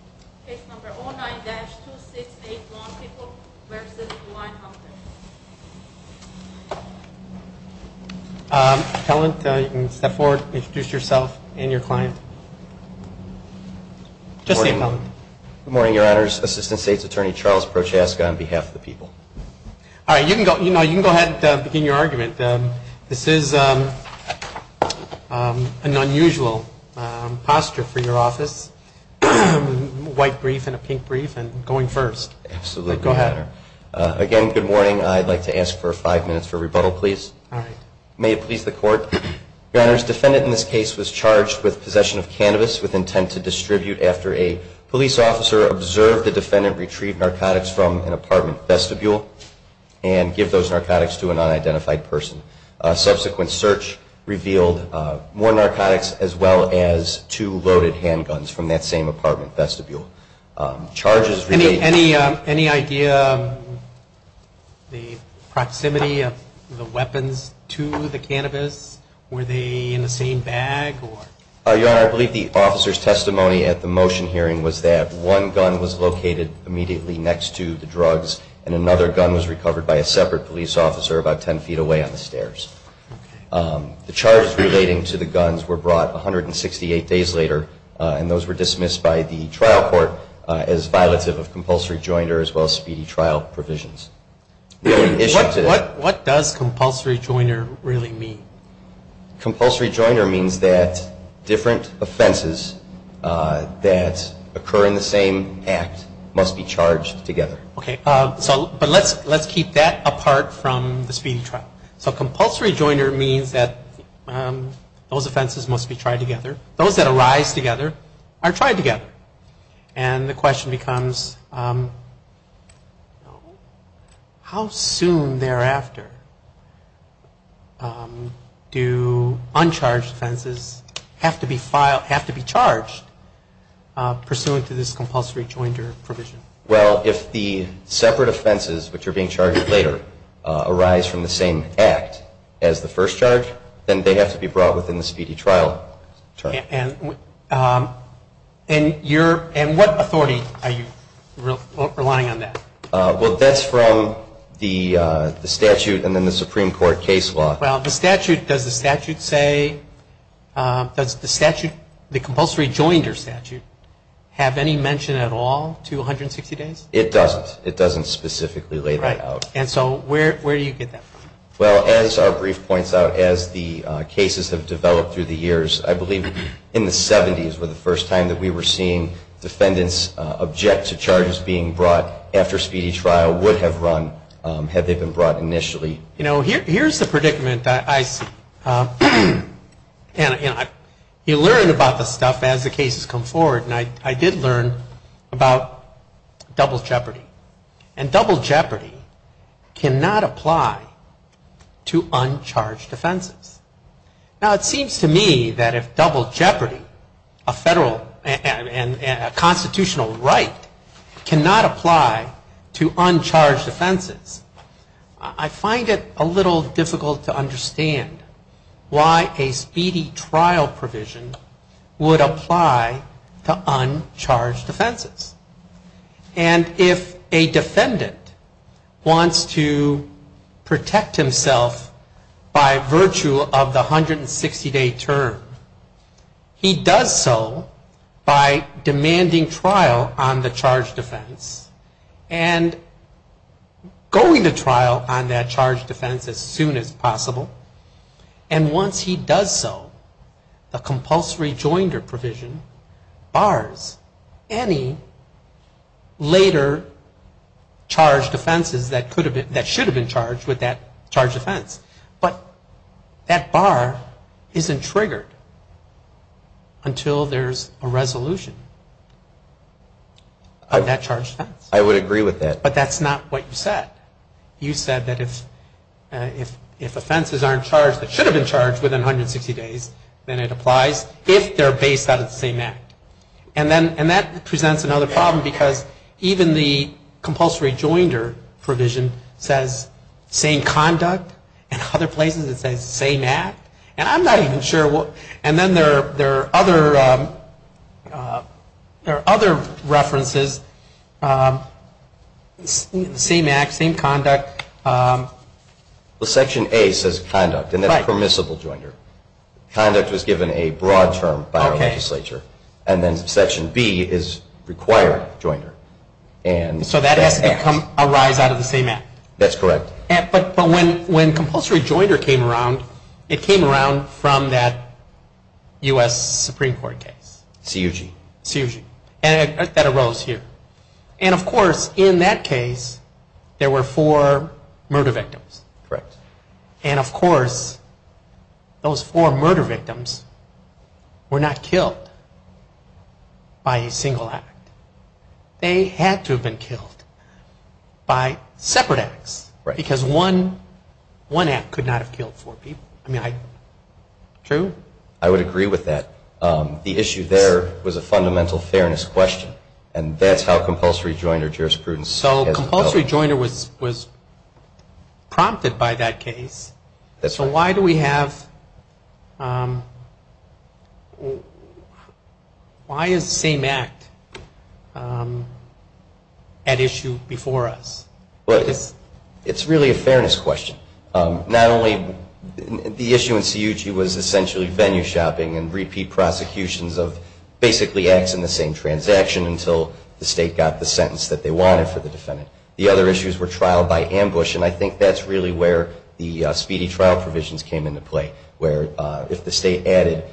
You can go ahead and begin your argument. This is an unusual posture for your office. Again, good morning. I'd like to ask for five minutes for rebuttal, please. May it please the court. Your Honor, the defendant in this case was charged with possession of cannabis with intent to distribute after a police officer observed the defendant retrieve narcotics from an apartment vestibule and give those narcotics to an unidentified person. Subsequent search revealed more narcotics as well as two loaded handguns from the apartment vestibule. Any idea of the proximity of the weapons to the cannabis? Were they in the same bag? Your Honor, I believe the officer's testimony at the motion hearing was that one gun was located immediately next to the drugs and another gun was recovered by a separate police officer about 10 feet away on the stairs. The charges relating to the guns were brought 168 days later and those were dismissed by the trial court as violative of compulsory joiner as well as speedy trial provisions. What does compulsory joiner really mean? Compulsory joiner means that different offenses that occur in the same act must be charged together. But let's keep that apart from the speedy trial. So compulsory joiner means that those offenses must be tried together. Those that arise together are tried together. And the question becomes how soon thereafter do uncharged offenses have to be charged pursuant to this compulsory joiner provision? Well, if the separate offenses which are being charged later arise from the same act as the first charge, then they have to be brought within the speedy trial term. And what authority are you relying on that? Well, that's from the statute and then the Supreme Court case law. Well, the statute, does the statute say, does the statute, the compulsory joiner statute have any mention at all to 160 days? It doesn't. It doesn't specifically lay that out. And so where do you get that from? Well, as our brief points out, as the cases have developed through the years, I believe in the 70s were the first time that we were seeing defendants object to charges being brought after speedy trial would have run had they been brought initially. You know, here's the predicament that I see. You learn about this stuff as the cases come forward, and I did learn about double jeopardy. And double jeopardy cannot apply to uncharged offenses. Now, it seems to me that if double jeopardy, a federal and constitutional right, cannot apply to uncharged offenses, I find it a little difficult to understand why a speedy trial provision would apply to uncharged offenses. And if a defendant wants to protect himself by virtue of the 160-day term, he does so by demanding trial on the charged offense and going to trial on that charged offense as soon as possible. And once he does so, the compulsory joinder provision bars any later charged offenses that should have been charged with that charged offense. But that bar isn't triggered until there's a resolution of that charged offense. I would agree with that. But that's not what you said. You said that if offenses aren't charged that should have been charged within 160 days, then it applies if they're based out of the same act. And that presents another problem, because even the compulsory joinder provision says same conduct, and other places it says same act. And I'm not even sure. And then there are other references, same act, same conduct. Section A says conduct, and that's permissible joinder. Conduct was given a broad term by our legislature. And then Section B is required joinder. So that has to arise out of the same act. That's correct. But when compulsory joinder came around, it came around from that U.S. Supreme Court case. C.U.G. C.U.G. And that arose here. And, of course, in that case there were four murder victims. Correct. And, of course, those four murder victims were not killed by a single act. They had to have been killed by separate acts. Right. Because one act could not have killed four people. True? I would agree with that. The issue there was a fundamental fairness question. And that's how compulsory joinder jurisprudence has developed. So compulsory joinder was prompted by that case. That's right. Why do we have the same act at issue before us? It's really a fairness question. Not only the issue in C.U.G. was essentially venue shopping and repeat prosecutions of basically acts in the same transaction until the state got the sentence that they wanted for the defendant. The other issues were trial by ambush. And I think that's really where the speedy trial provisions came into play, where if the state added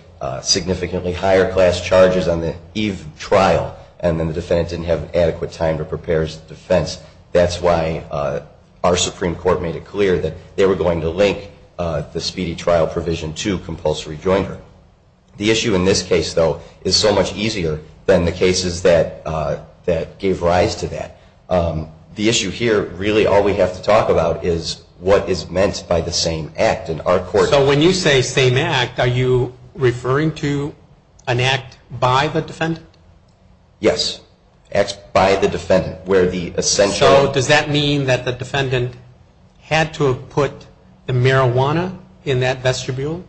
significantly higher class charges on the eve trial and then the defendant didn't have adequate time to prepare his defense, that's why our Supreme Court made it clear that they were going to link the speedy trial provision to compulsory joinder. The issue in this case, though, is so much easier than the cases that gave rise to that. The issue here, really all we have to talk about is what is meant by the same act. So when you say same act, are you referring to an act by the defendant? Yes. Acts by the defendant. So does that mean that the defendant had to have put the marijuana in that vestibule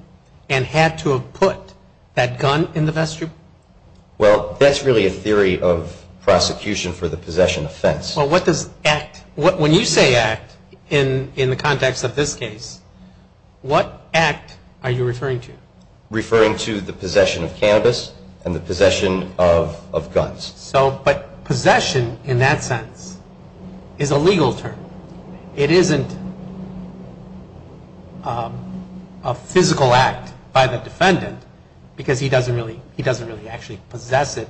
and had to have put that gun in the vestibule? Well, that's really a theory of prosecution for the possession offense. Well, what does act? When you say act in the context of this case, what act are you referring to? Referring to the possession of cannabis and the possession of guns. But possession in that sense is a legal term. It isn't a physical act by the defendant because he doesn't really actually possess it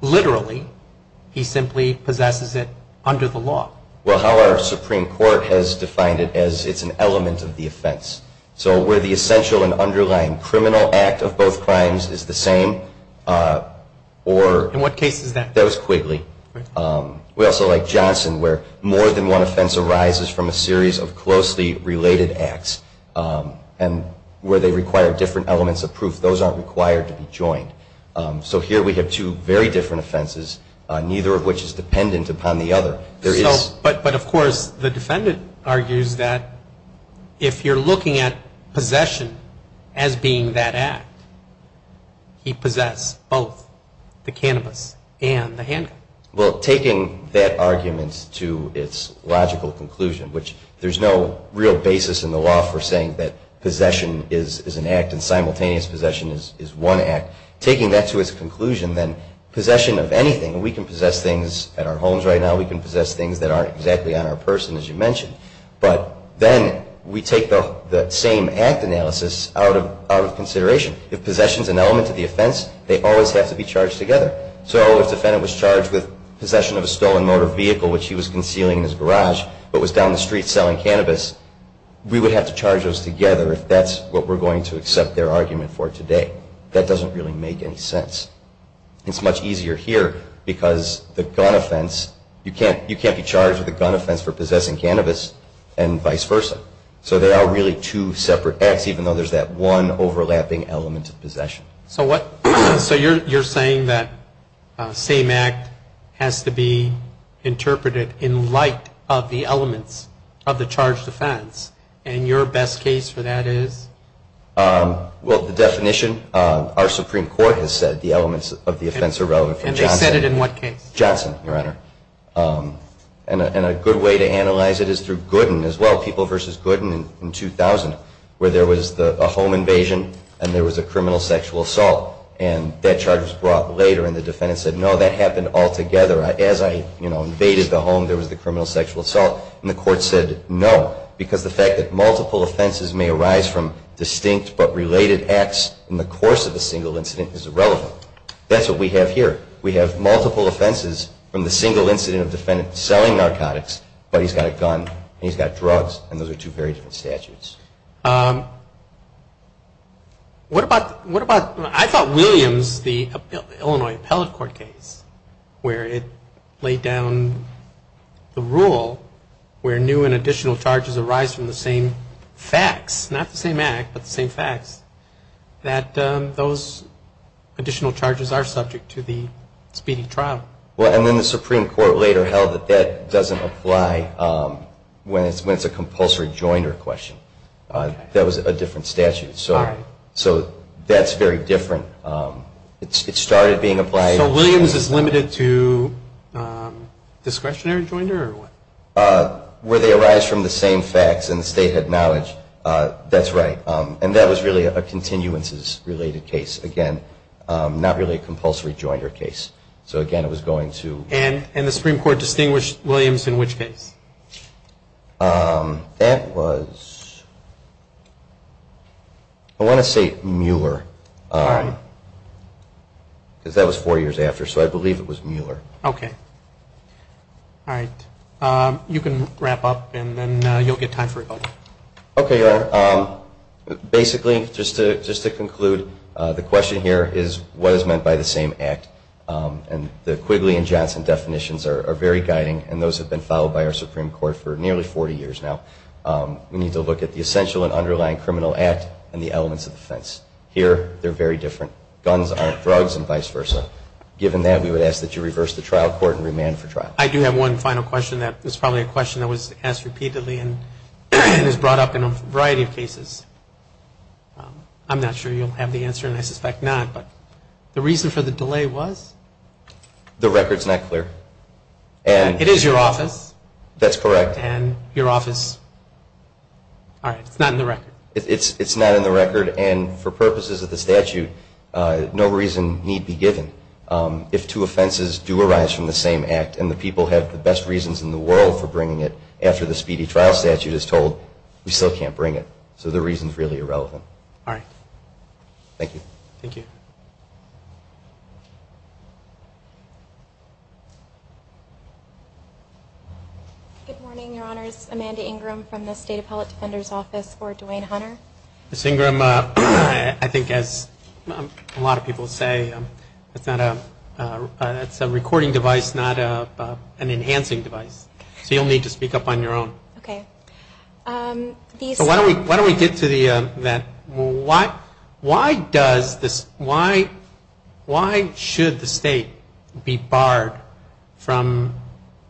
literally. He simply possesses it under the law. Well, how our Supreme Court has defined it as it's an element of the offense. So where the essential and underlying criminal act of both crimes is the same or… That was Quigley. We also like Johnson where more than one offense arises from a series of closely related acts and where they require different elements of proof. Those aren't required to be joined. So here we have two very different offenses, neither of which is dependent upon the other. But, of course, the defendant argues that if you're looking at possession as being that act, he possesses both the cannabis and the handgun. Well, taking that argument to its logical conclusion, which there's no real basis in the law for saying that possession is an act and simultaneous possession is one act. Taking that to its conclusion, then possession of anything, we can possess things at our homes right now, we can possess things that aren't exactly on our person as you mentioned. But then we take the same act analysis out of consideration. If possession is an element of the offense, they always have to be charged together. So if the defendant was charged with possession of a stolen motor vehicle, which he was concealing in his garage but was down the street selling cannabis, we would have to charge those together if that's what we're going to accept their argument for today. That doesn't really make any sense. It's much easier here because the gun offense, you can't be charged with a gun offense for possessing cannabis and vice versa. So there are really two separate acts, even though there's that one overlapping element of possession. So you're saying that same act has to be interpreted in light of the elements of the charged offense, and your best case for that is? Well, the definition, our Supreme Court has said the elements of the offense are relevant for Johnson. And they said it in what case? Johnson, Your Honor. And a good way to analyze it is through Gooden as well, People v. Gooden in 2000, where there was a home invasion and there was a criminal sexual assault. And that charge was brought later, and the defendant said, no, that happened altogether. As I invaded the home, there was the criminal sexual assault. And the court said, no, because the fact that multiple offenses may arise from distinct but related acts in the course of a single incident is irrelevant. That's what we have here. We have multiple offenses from the single incident of the defendant selling narcotics, but he's got a gun and he's got drugs, and those are two very different statutes. What about, I thought Williams, the Illinois Appellate Court case, where it laid down the rule where new and additional charges arise from the same facts, not the same act, but the same facts, that those additional charges are subject to the speedy trial? Well, and then the Supreme Court later held that that doesn't apply when it's a compulsory joinder question. That was a different statute. All right. So that's very different. It started being applied. So Williams is limited to discretionary joinder or what? Where they arise from the same facts and the state had knowledge, that's right. And that was really a continuances-related case, again, not really a compulsory joinder case. So, again, it was going to. And the Supreme Court distinguished Williams in which case? That was, I want to say Mueller, because that was four years after. So I believe it was Mueller. Okay. All right. You can wrap up, and then you'll get time for a vote. Okay, Your Honor. Basically, just to conclude, the question here is what is meant by the same act? And the Quigley and Johnson definitions are very guiding, and those have been followed by our Supreme Court for nearly 40 years now. We need to look at the essential and underlying criminal act and the elements of defense. Here, they're very different. Guns aren't drugs and vice versa. Given that, we would ask that you reverse the trial court and remand for trial. I do have one final question. It's probably a question that was asked repeatedly and is brought up in a variety of cases. I'm not sure you'll have the answer, and I suspect not. But the reason for the delay was? The record's not clear. It is your office. That's correct. And your office. All right. It's not in the record. It's not in the record, and for purposes of the statute, no reason need be given. If two offenses do arise from the same act and the people have the best reasons in the world for bringing it after the speedy trial statute is told, we still can't bring it. So the reason's really irrelevant. All right. Thank you. Thank you. Good morning, Your Honors. Amanda Ingram from the State Appellate Defender's Office for Duane Hunter. Ms. Ingram, I think as a lot of people say, it's a recording device, not an enhancing device. So you'll need to speak up on your own. Okay. Why should the state be barred from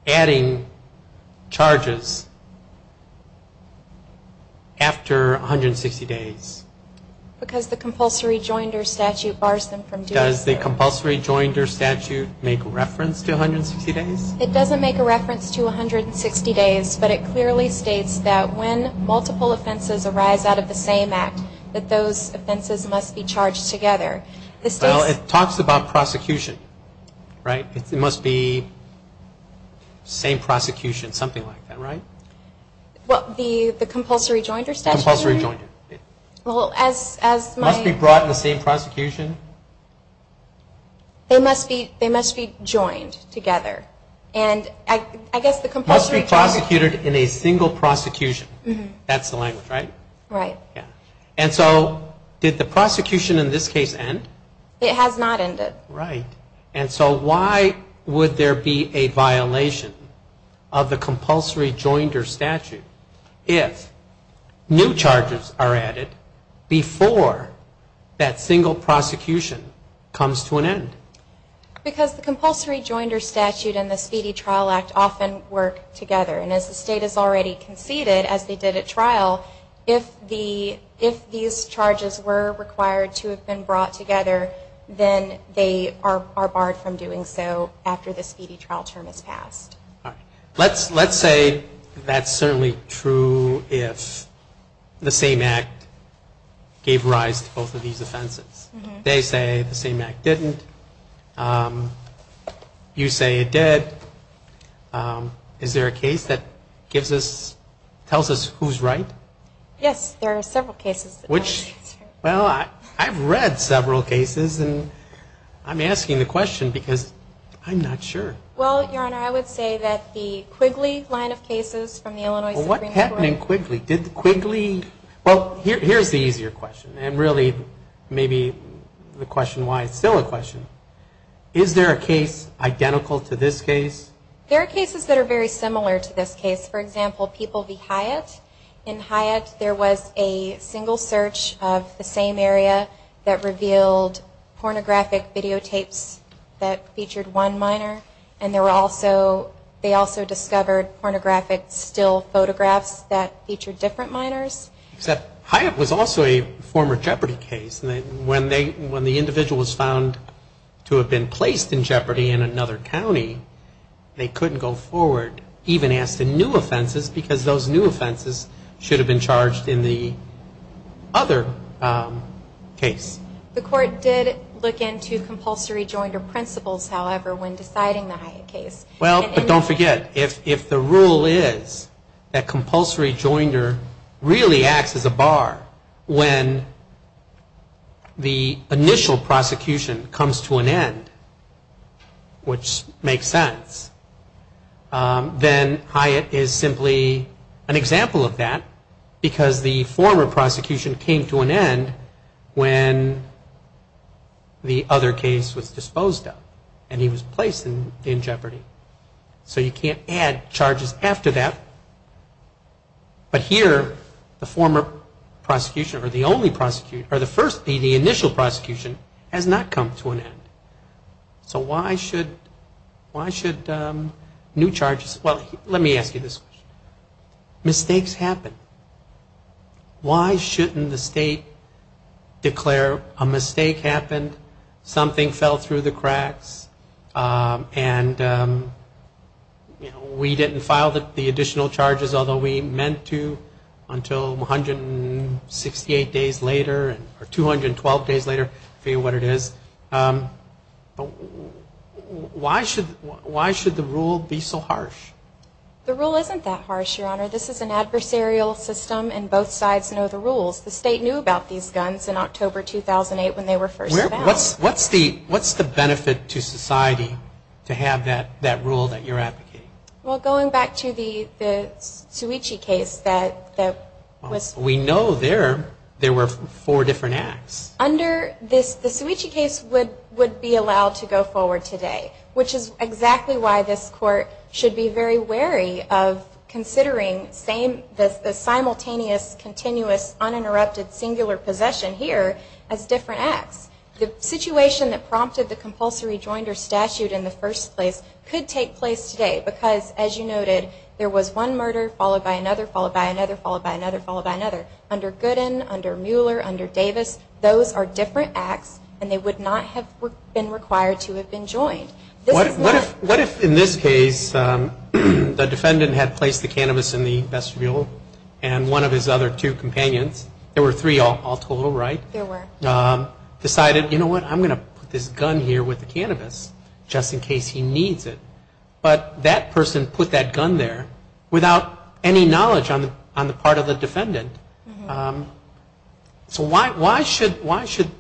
adding charges after 160 days? Because the compulsory joinder statute bars them from doing so. Does the compulsory joinder statute make reference to 160 days? It doesn't make a reference to 160 days, but it clearly states that when multiple offenses arise out of the same act, that those offenses must be charged together. Well, it talks about prosecution, right? It must be same prosecution, something like that, right? Well, the compulsory joinder statute? Compulsory joinder. Must be brought in the same prosecution? They must be joined together. Must be prosecuted in a single prosecution. That's the language, right? Right. And so did the prosecution in this case end? It has not ended. Right. And so why would there be a violation of the compulsory joinder statute if new charges are added before that single prosecution comes to an end? Because the compulsory joinder statute and the Speedy Trial Act often work together. And as the state has already conceded, as they did at trial, if these charges were required to have been brought together, then they are barred from doing so after the Speedy Trial term has passed. All right. Let's say that's certainly true if the same act gave rise to both of these offenses. They say the same act didn't. You say it did. Is there a case that tells us who's right? Yes. There are several cases. Well, I've read several cases, and I'm asking the question because I'm not sure. Well, Your Honor, I would say that the Quigley line of cases from the Illinois Supreme Court. Well, what happened in Quigley? Did Quigley – well, here's the easier question. And really, maybe the question why it's still a question. Is there a case identical to this case? There are cases that are very similar to this case. For example, People v. Hyatt. In Hyatt, there was a single search of the same area that revealed pornographic videotapes that featured one minor, and they also discovered pornographic still photographs that featured different minors. Except Hyatt was also a former Jeopardy case. When the individual was found to have been placed in Jeopardy in another county, they couldn't go forward, even ask the new offenses, because those new offenses should have been charged in the other case. The court did look into compulsory joinder principles, however, when deciding the Hyatt case. Well, but don't forget, if the rule is that compulsory joinder really acts as a bar when the initial prosecution comes to an end, which makes sense, then Hyatt is simply an example of that because the former prosecution came to an end when the other case was disposed of, and he was placed in Jeopardy. So you can't add charges after that. But here, the former prosecution, or the only prosecution, or the first, the initial prosecution, has not come to an end. So why should new charges, well, let me ask you this question. Mistakes happen. Why shouldn't the state declare a mistake happened, something fell through the cracks, and we didn't file the additional charges, although we meant to, until 168 days later, or 212 days later, I forget what it is. The rule isn't that harsh, Your Honor. This is an adversarial system, and both sides know the rules. The state knew about these guns in October 2008 when they were first announced. What's the benefit to society to have that rule that you're advocating? Well, going back to the Suu Kyi case that was... We know there were four different acts. Under this, the Suu Kyi case would be allowed to go forward today, which is exactly why this Court should be very wary of considering the simultaneous, continuous, uninterrupted, singular possession here as different acts. The situation that prompted the compulsory joinder statute in the first place could take place today because, as you noted, there was one murder, followed by another, followed by another, followed by another, followed by another. Under Goodin, under Mueller, under Davis, those are different acts, and they would not have been required to have been joined. What if, in this case, the defendant had placed the cannabis in the vestibule and one of his other two companions, there were three all total, right? There were. Decided, you know what, I'm going to put this gun here with the cannabis, just in case he needs it. But that person put that gun there without any knowledge on the part of the defendant. So why should that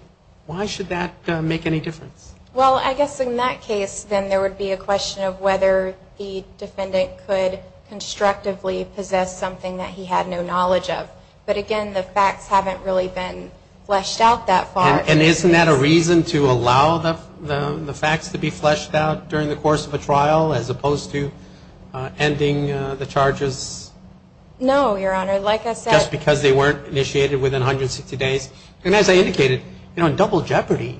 make any difference? Well, I guess in that case then there would be a question of whether the defendant could constructively possess something that he had no knowledge of. But, again, the facts haven't really been fleshed out that far. And isn't that a reason to allow the facts to be fleshed out during the course of a trial as opposed to ending the charges? No, Your Honor. Like I said. Just because they weren't initiated within 160 days. And as I indicated, you know, double jeopardy,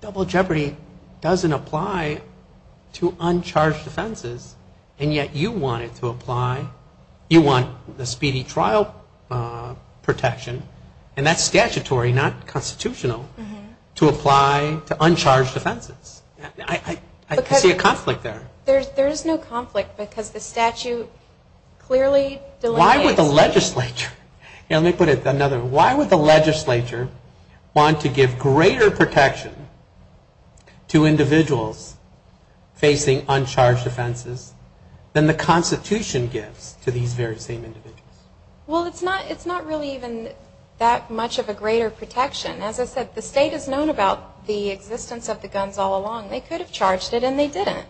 double jeopardy doesn't apply to uncharged offenses, and yet you want it to apply. You want the speedy trial protection, and that's statutory, not constitutional, to apply to uncharged offenses. I see a conflict there. There is no conflict because the statute clearly delineates. Why would the legislature? Let me put it another way. Why would the legislature want to give greater protection to individuals facing uncharged offenses than the Constitution gives to these very same individuals? Well, it's not really even that much of a greater protection. As I said, the state has known about the existence of the guns all along. They could have charged it, and they didn't.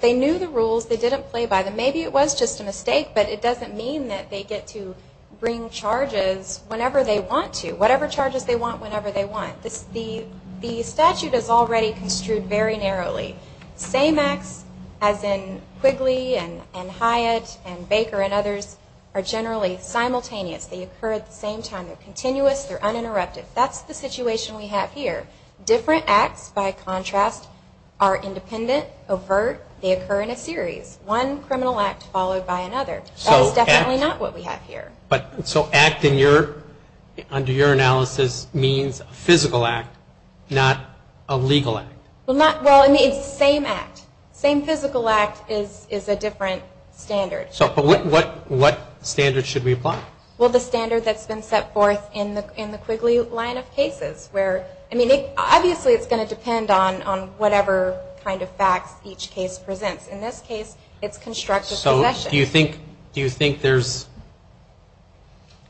They knew the rules. They didn't play by them. Maybe it was just a mistake, but it doesn't mean that they get to bring charges whenever they want to, whatever charges they want whenever they want. The statute is already construed very narrowly. Same acts as in Quigley and Hyatt and Baker and others are generally simultaneous. They occur at the same time. They're continuous. They're uninterrupted. That's the situation we have here. Different acts, by contrast, are independent, overt. They occur in a series. One criminal act followed by another. That is definitely not what we have here. So act under your analysis means a physical act, not a legal act. Well, it's the same act. Same physical act is a different standard. But what standard should we apply? Obviously it's going to depend on whatever kind of facts each case presents. In this case, it's constructive possession. So do you think there's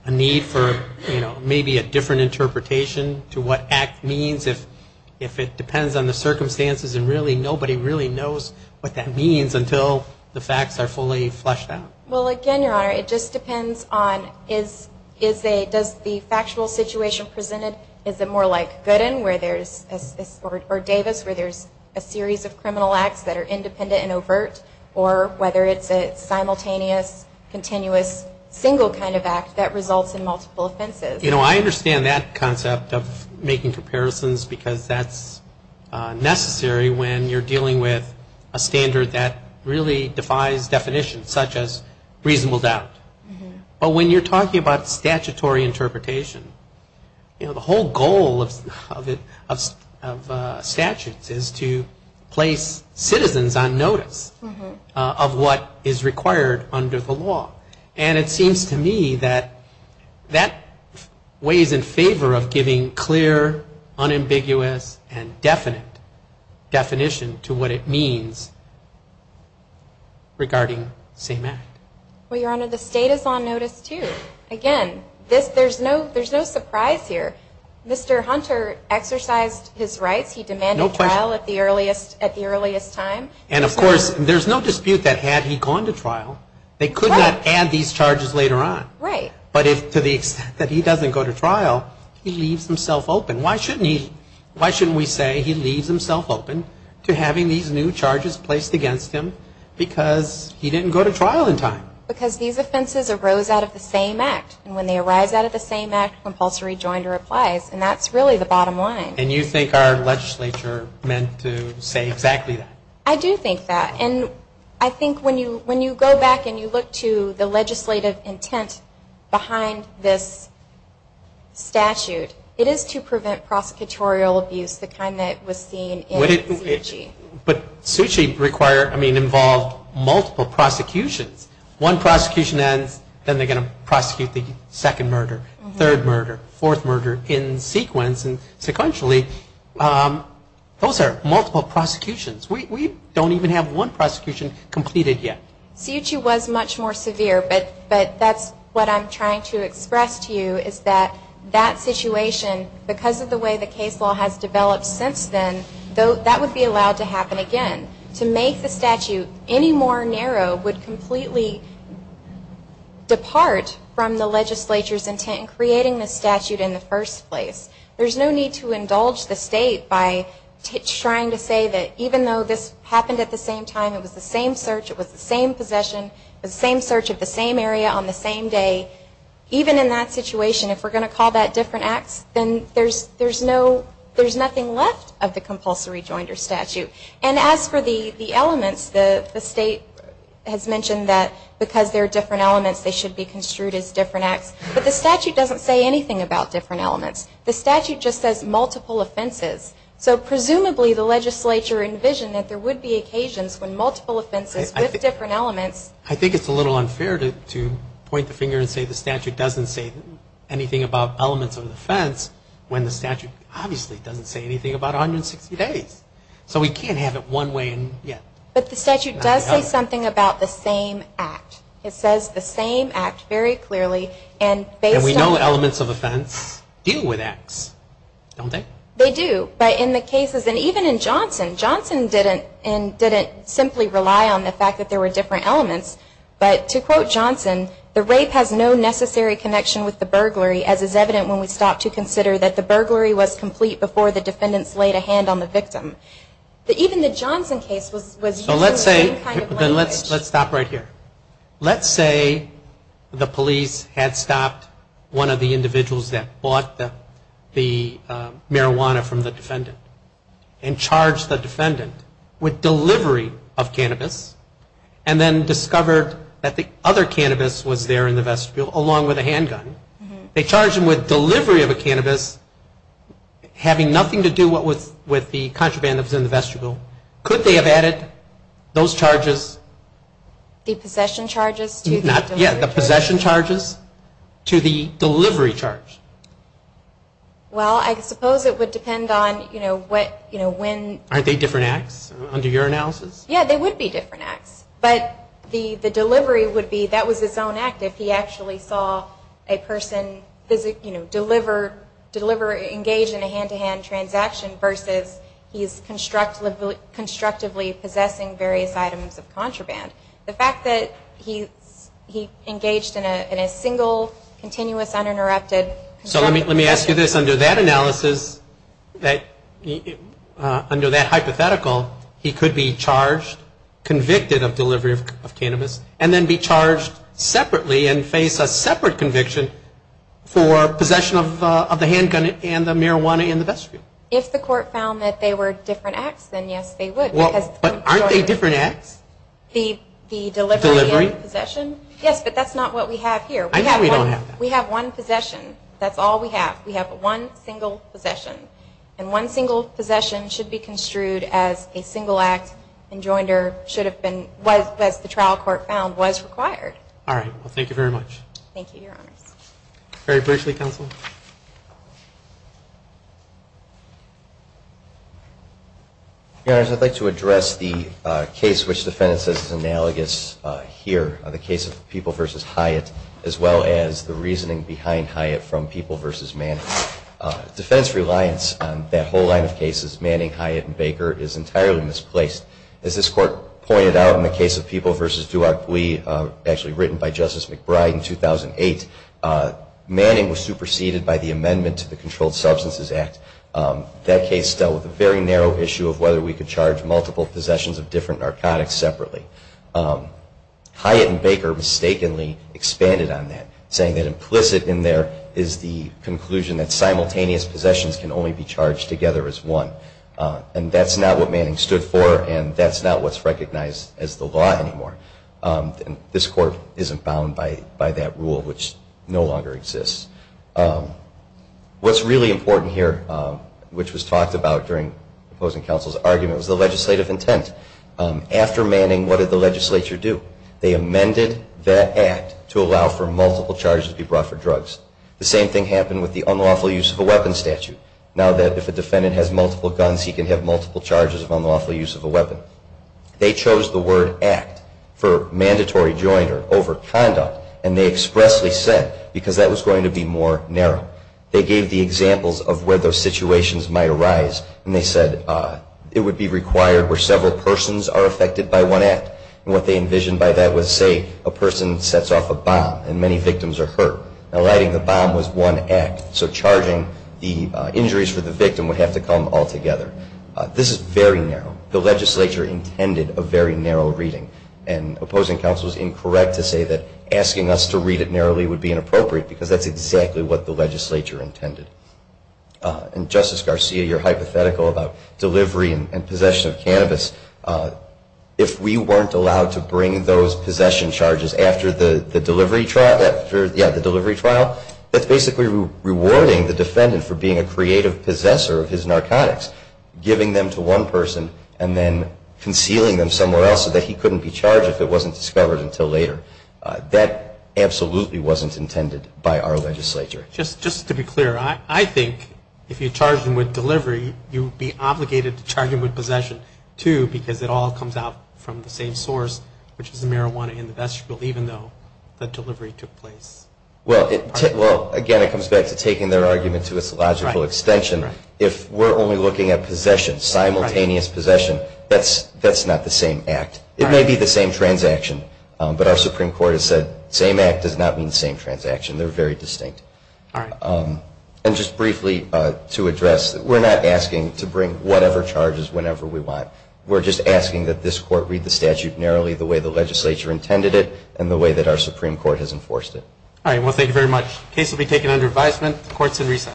a need for maybe a different interpretation to what act means if it depends on the circumstances and nobody really knows what that means until the facts are fully fleshed out? Well, again, Your Honor, it just depends on does the factual situation present it, is it more like Gooden or Davis where there's a series of criminal acts that are independent and overt, or whether it's a simultaneous, continuous, single kind of act that results in multiple offenses. You know, I understand that concept of making comparisons because that's necessary when you're dealing with a standard that really defies definition, such as reasonable doubt. But when you're talking about statutory interpretation, you know, the whole goal of statutes is to place citizens on notice of what is required under the law. And it seems to me that that weighs in favor of giving clear, unambiguous, and definite definition to what it means regarding the same act. Well, Your Honor, the state is on notice, too. Again, there's no surprise here. Mr. Hunter exercised his rights. He demanded trial at the earliest time. And, of course, there's no dispute that had he gone to trial, they could not add these charges later on. Right. But to the extent that he doesn't go to trial, he leaves himself open. Why shouldn't we say he leaves himself open to having these new charges placed against him because he didn't go to trial in time? Because these offenses arose out of the same act. And when they arise out of the same act, compulsory joinder applies. And that's really the bottom line. And you think our legislature meant to say exactly that? I do think that. And I think when you go back and you look to the legislative intent behind this statute, But Suu Kyi involved multiple prosecutions. One prosecution ends, then they're going to prosecute the second murder, third murder, fourth murder in sequence. And sequentially, those are multiple prosecutions. We don't even have one prosecution completed yet. Suu Kyi was much more severe, but that's what I'm trying to express to you, is that that situation, because of the way the case law has developed since then, that would be allowed to happen again. To make the statute any more narrow would completely depart from the legislature's intent in creating this statute in the first place. There's no need to indulge the state by trying to say that even though this happened at the same time, it was the same search, it was the same possession, the same search of the same area on the same day, even in that situation, if we're going to call that different acts, then there's nothing left of the compulsory joinder statute. And as for the elements, the state has mentioned that because there are different elements, they should be construed as different acts. But the statute doesn't say anything about different elements. The statute just says multiple offenses. So presumably the legislature envisioned that there would be occasions when multiple offenses with different elements I think it's a little unfair to point the finger and say the statute doesn't say anything about elements of defense, when the statute obviously doesn't say anything about 160 days. So we can't have it one way and yet. But the statute does say something about the same act. It says the same act very clearly. And we know elements of offense deal with acts, don't they? They do, but in the cases, and even in Johnson, Johnson didn't simply rely on the fact that there were different elements. But to quote Johnson, the rape has no necessary connection with the burglary, as is evident when we stop to consider that the burglary was complete before the defendants laid a hand on the victim. Even the Johnson case was using the same kind of language. So let's say, let's stop right here. Let's say the police had stopped one of the individuals that bought the marijuana from the defendant and charged the defendant with delivery of cannabis, and then discovered that the other cannabis was there in the vestibule along with a handgun. They charged him with delivery of a cannabis having nothing to do with the contraband that was in the vestibule. Could they have added those charges? The possession charges? Yeah, the possession charges to the delivery charge. Well, I suppose it would depend on what, you know, when. Aren't they different acts under your analysis? Yeah, they would be different acts. But the delivery would be that was his own act if he actually saw a person, you know, deliver, engage in a hand-to-hand transaction versus he's constructively possessing various items of contraband. The fact that he engaged in a single, continuous, uninterrupted. So let me ask you this. Under that analysis, under that hypothetical, he could be charged, convicted of delivery of cannabis, and then be charged separately and face a separate conviction for possession of the handgun and the marijuana in the vestibule. If the court found that they were different acts, then yes, they would. But aren't they different acts? The delivery and the possession? Yes, but that's not what we have here. I know we don't have that. We have one possession. That's all we have. We have one single possession. And one single possession should be construed as a single act and Joinder should have been, as the trial court found, was required. All right. Well, thank you very much. Thank you, Your Honors. Barry Bridgely, counsel. Your Honors, I'd like to address the case which the defendant says is analogous here, the case of People v. Hyatt, as well as the reasoning behind Hyatt from People v. Manning. Defense reliance on that whole line of cases, Manning, Hyatt, and Baker, is entirely misplaced. As this court pointed out in the case of People v. Duarte Bui, actually written by Justice McBride in 2008, Manning was superseded by the amendment to the Controlled Substances Act. That case dealt with a very narrow issue of whether we could charge multiple possessions of different narcotics separately. Hyatt and Baker mistakenly expanded on that, saying that implicit in there is the conclusion that simultaneous possessions can only be charged together as one. And that's not what Manning stood for and that's not what's recognized as the law anymore. This court isn't bound by that rule, which no longer exists. What's really important here, which was talked about during opposing counsel's argument, was the legislative intent. After Manning, what did the legislature do? They amended that act to allow for multiple charges to be brought for drugs. The same thing happened with the unlawful use of a weapon statute. Now that if a defendant has multiple guns, he can have multiple charges of unlawful use of a weapon. They chose the word act for mandatory joint or overconduct, and they expressly said because that was going to be more narrow. They gave the examples of where those situations might arise, and they said it would be required where several persons are affected by one act. And what they envisioned by that was, say, a person sets off a bomb and many victims are hurt. Now lighting the bomb was one act, so charging the injuries for the victim would have to come all together. This is very narrow. The legislature intended a very narrow reading. And opposing counsel is incorrect to say that asking us to read it narrowly would be inappropriate because that's exactly what the legislature intended. And Justice Garcia, you're hypothetical about delivery and possession of cannabis. If we weren't allowed to bring those possession charges after the delivery trial, that's basically rewarding the defendant for being a creative possessor of his narcotics, giving them to one person and then concealing them somewhere else so that he couldn't be charged if it wasn't discovered until later. That absolutely wasn't intended by our legislature. Just to be clear, I think if you charge them with delivery, you would be obligated to charge them with possession, too, because it all comes out from the same source, which is the marijuana in the vestibule, even though the delivery took place. Well, again, it comes back to taking their argument to its logical extension. If we're only looking at possession, simultaneous possession, that's not the same act. It may be the same transaction, but our Supreme Court has said, same act does not mean same transaction. They're very distinct. And just briefly to address, we're not asking to bring whatever charges whenever we want. We're just asking that this court read the statute narrowly the way the legislature intended it and the way that our Supreme Court has enforced it. All right. Well, thank you very much. The case will be taken under advisement. The court is in recess.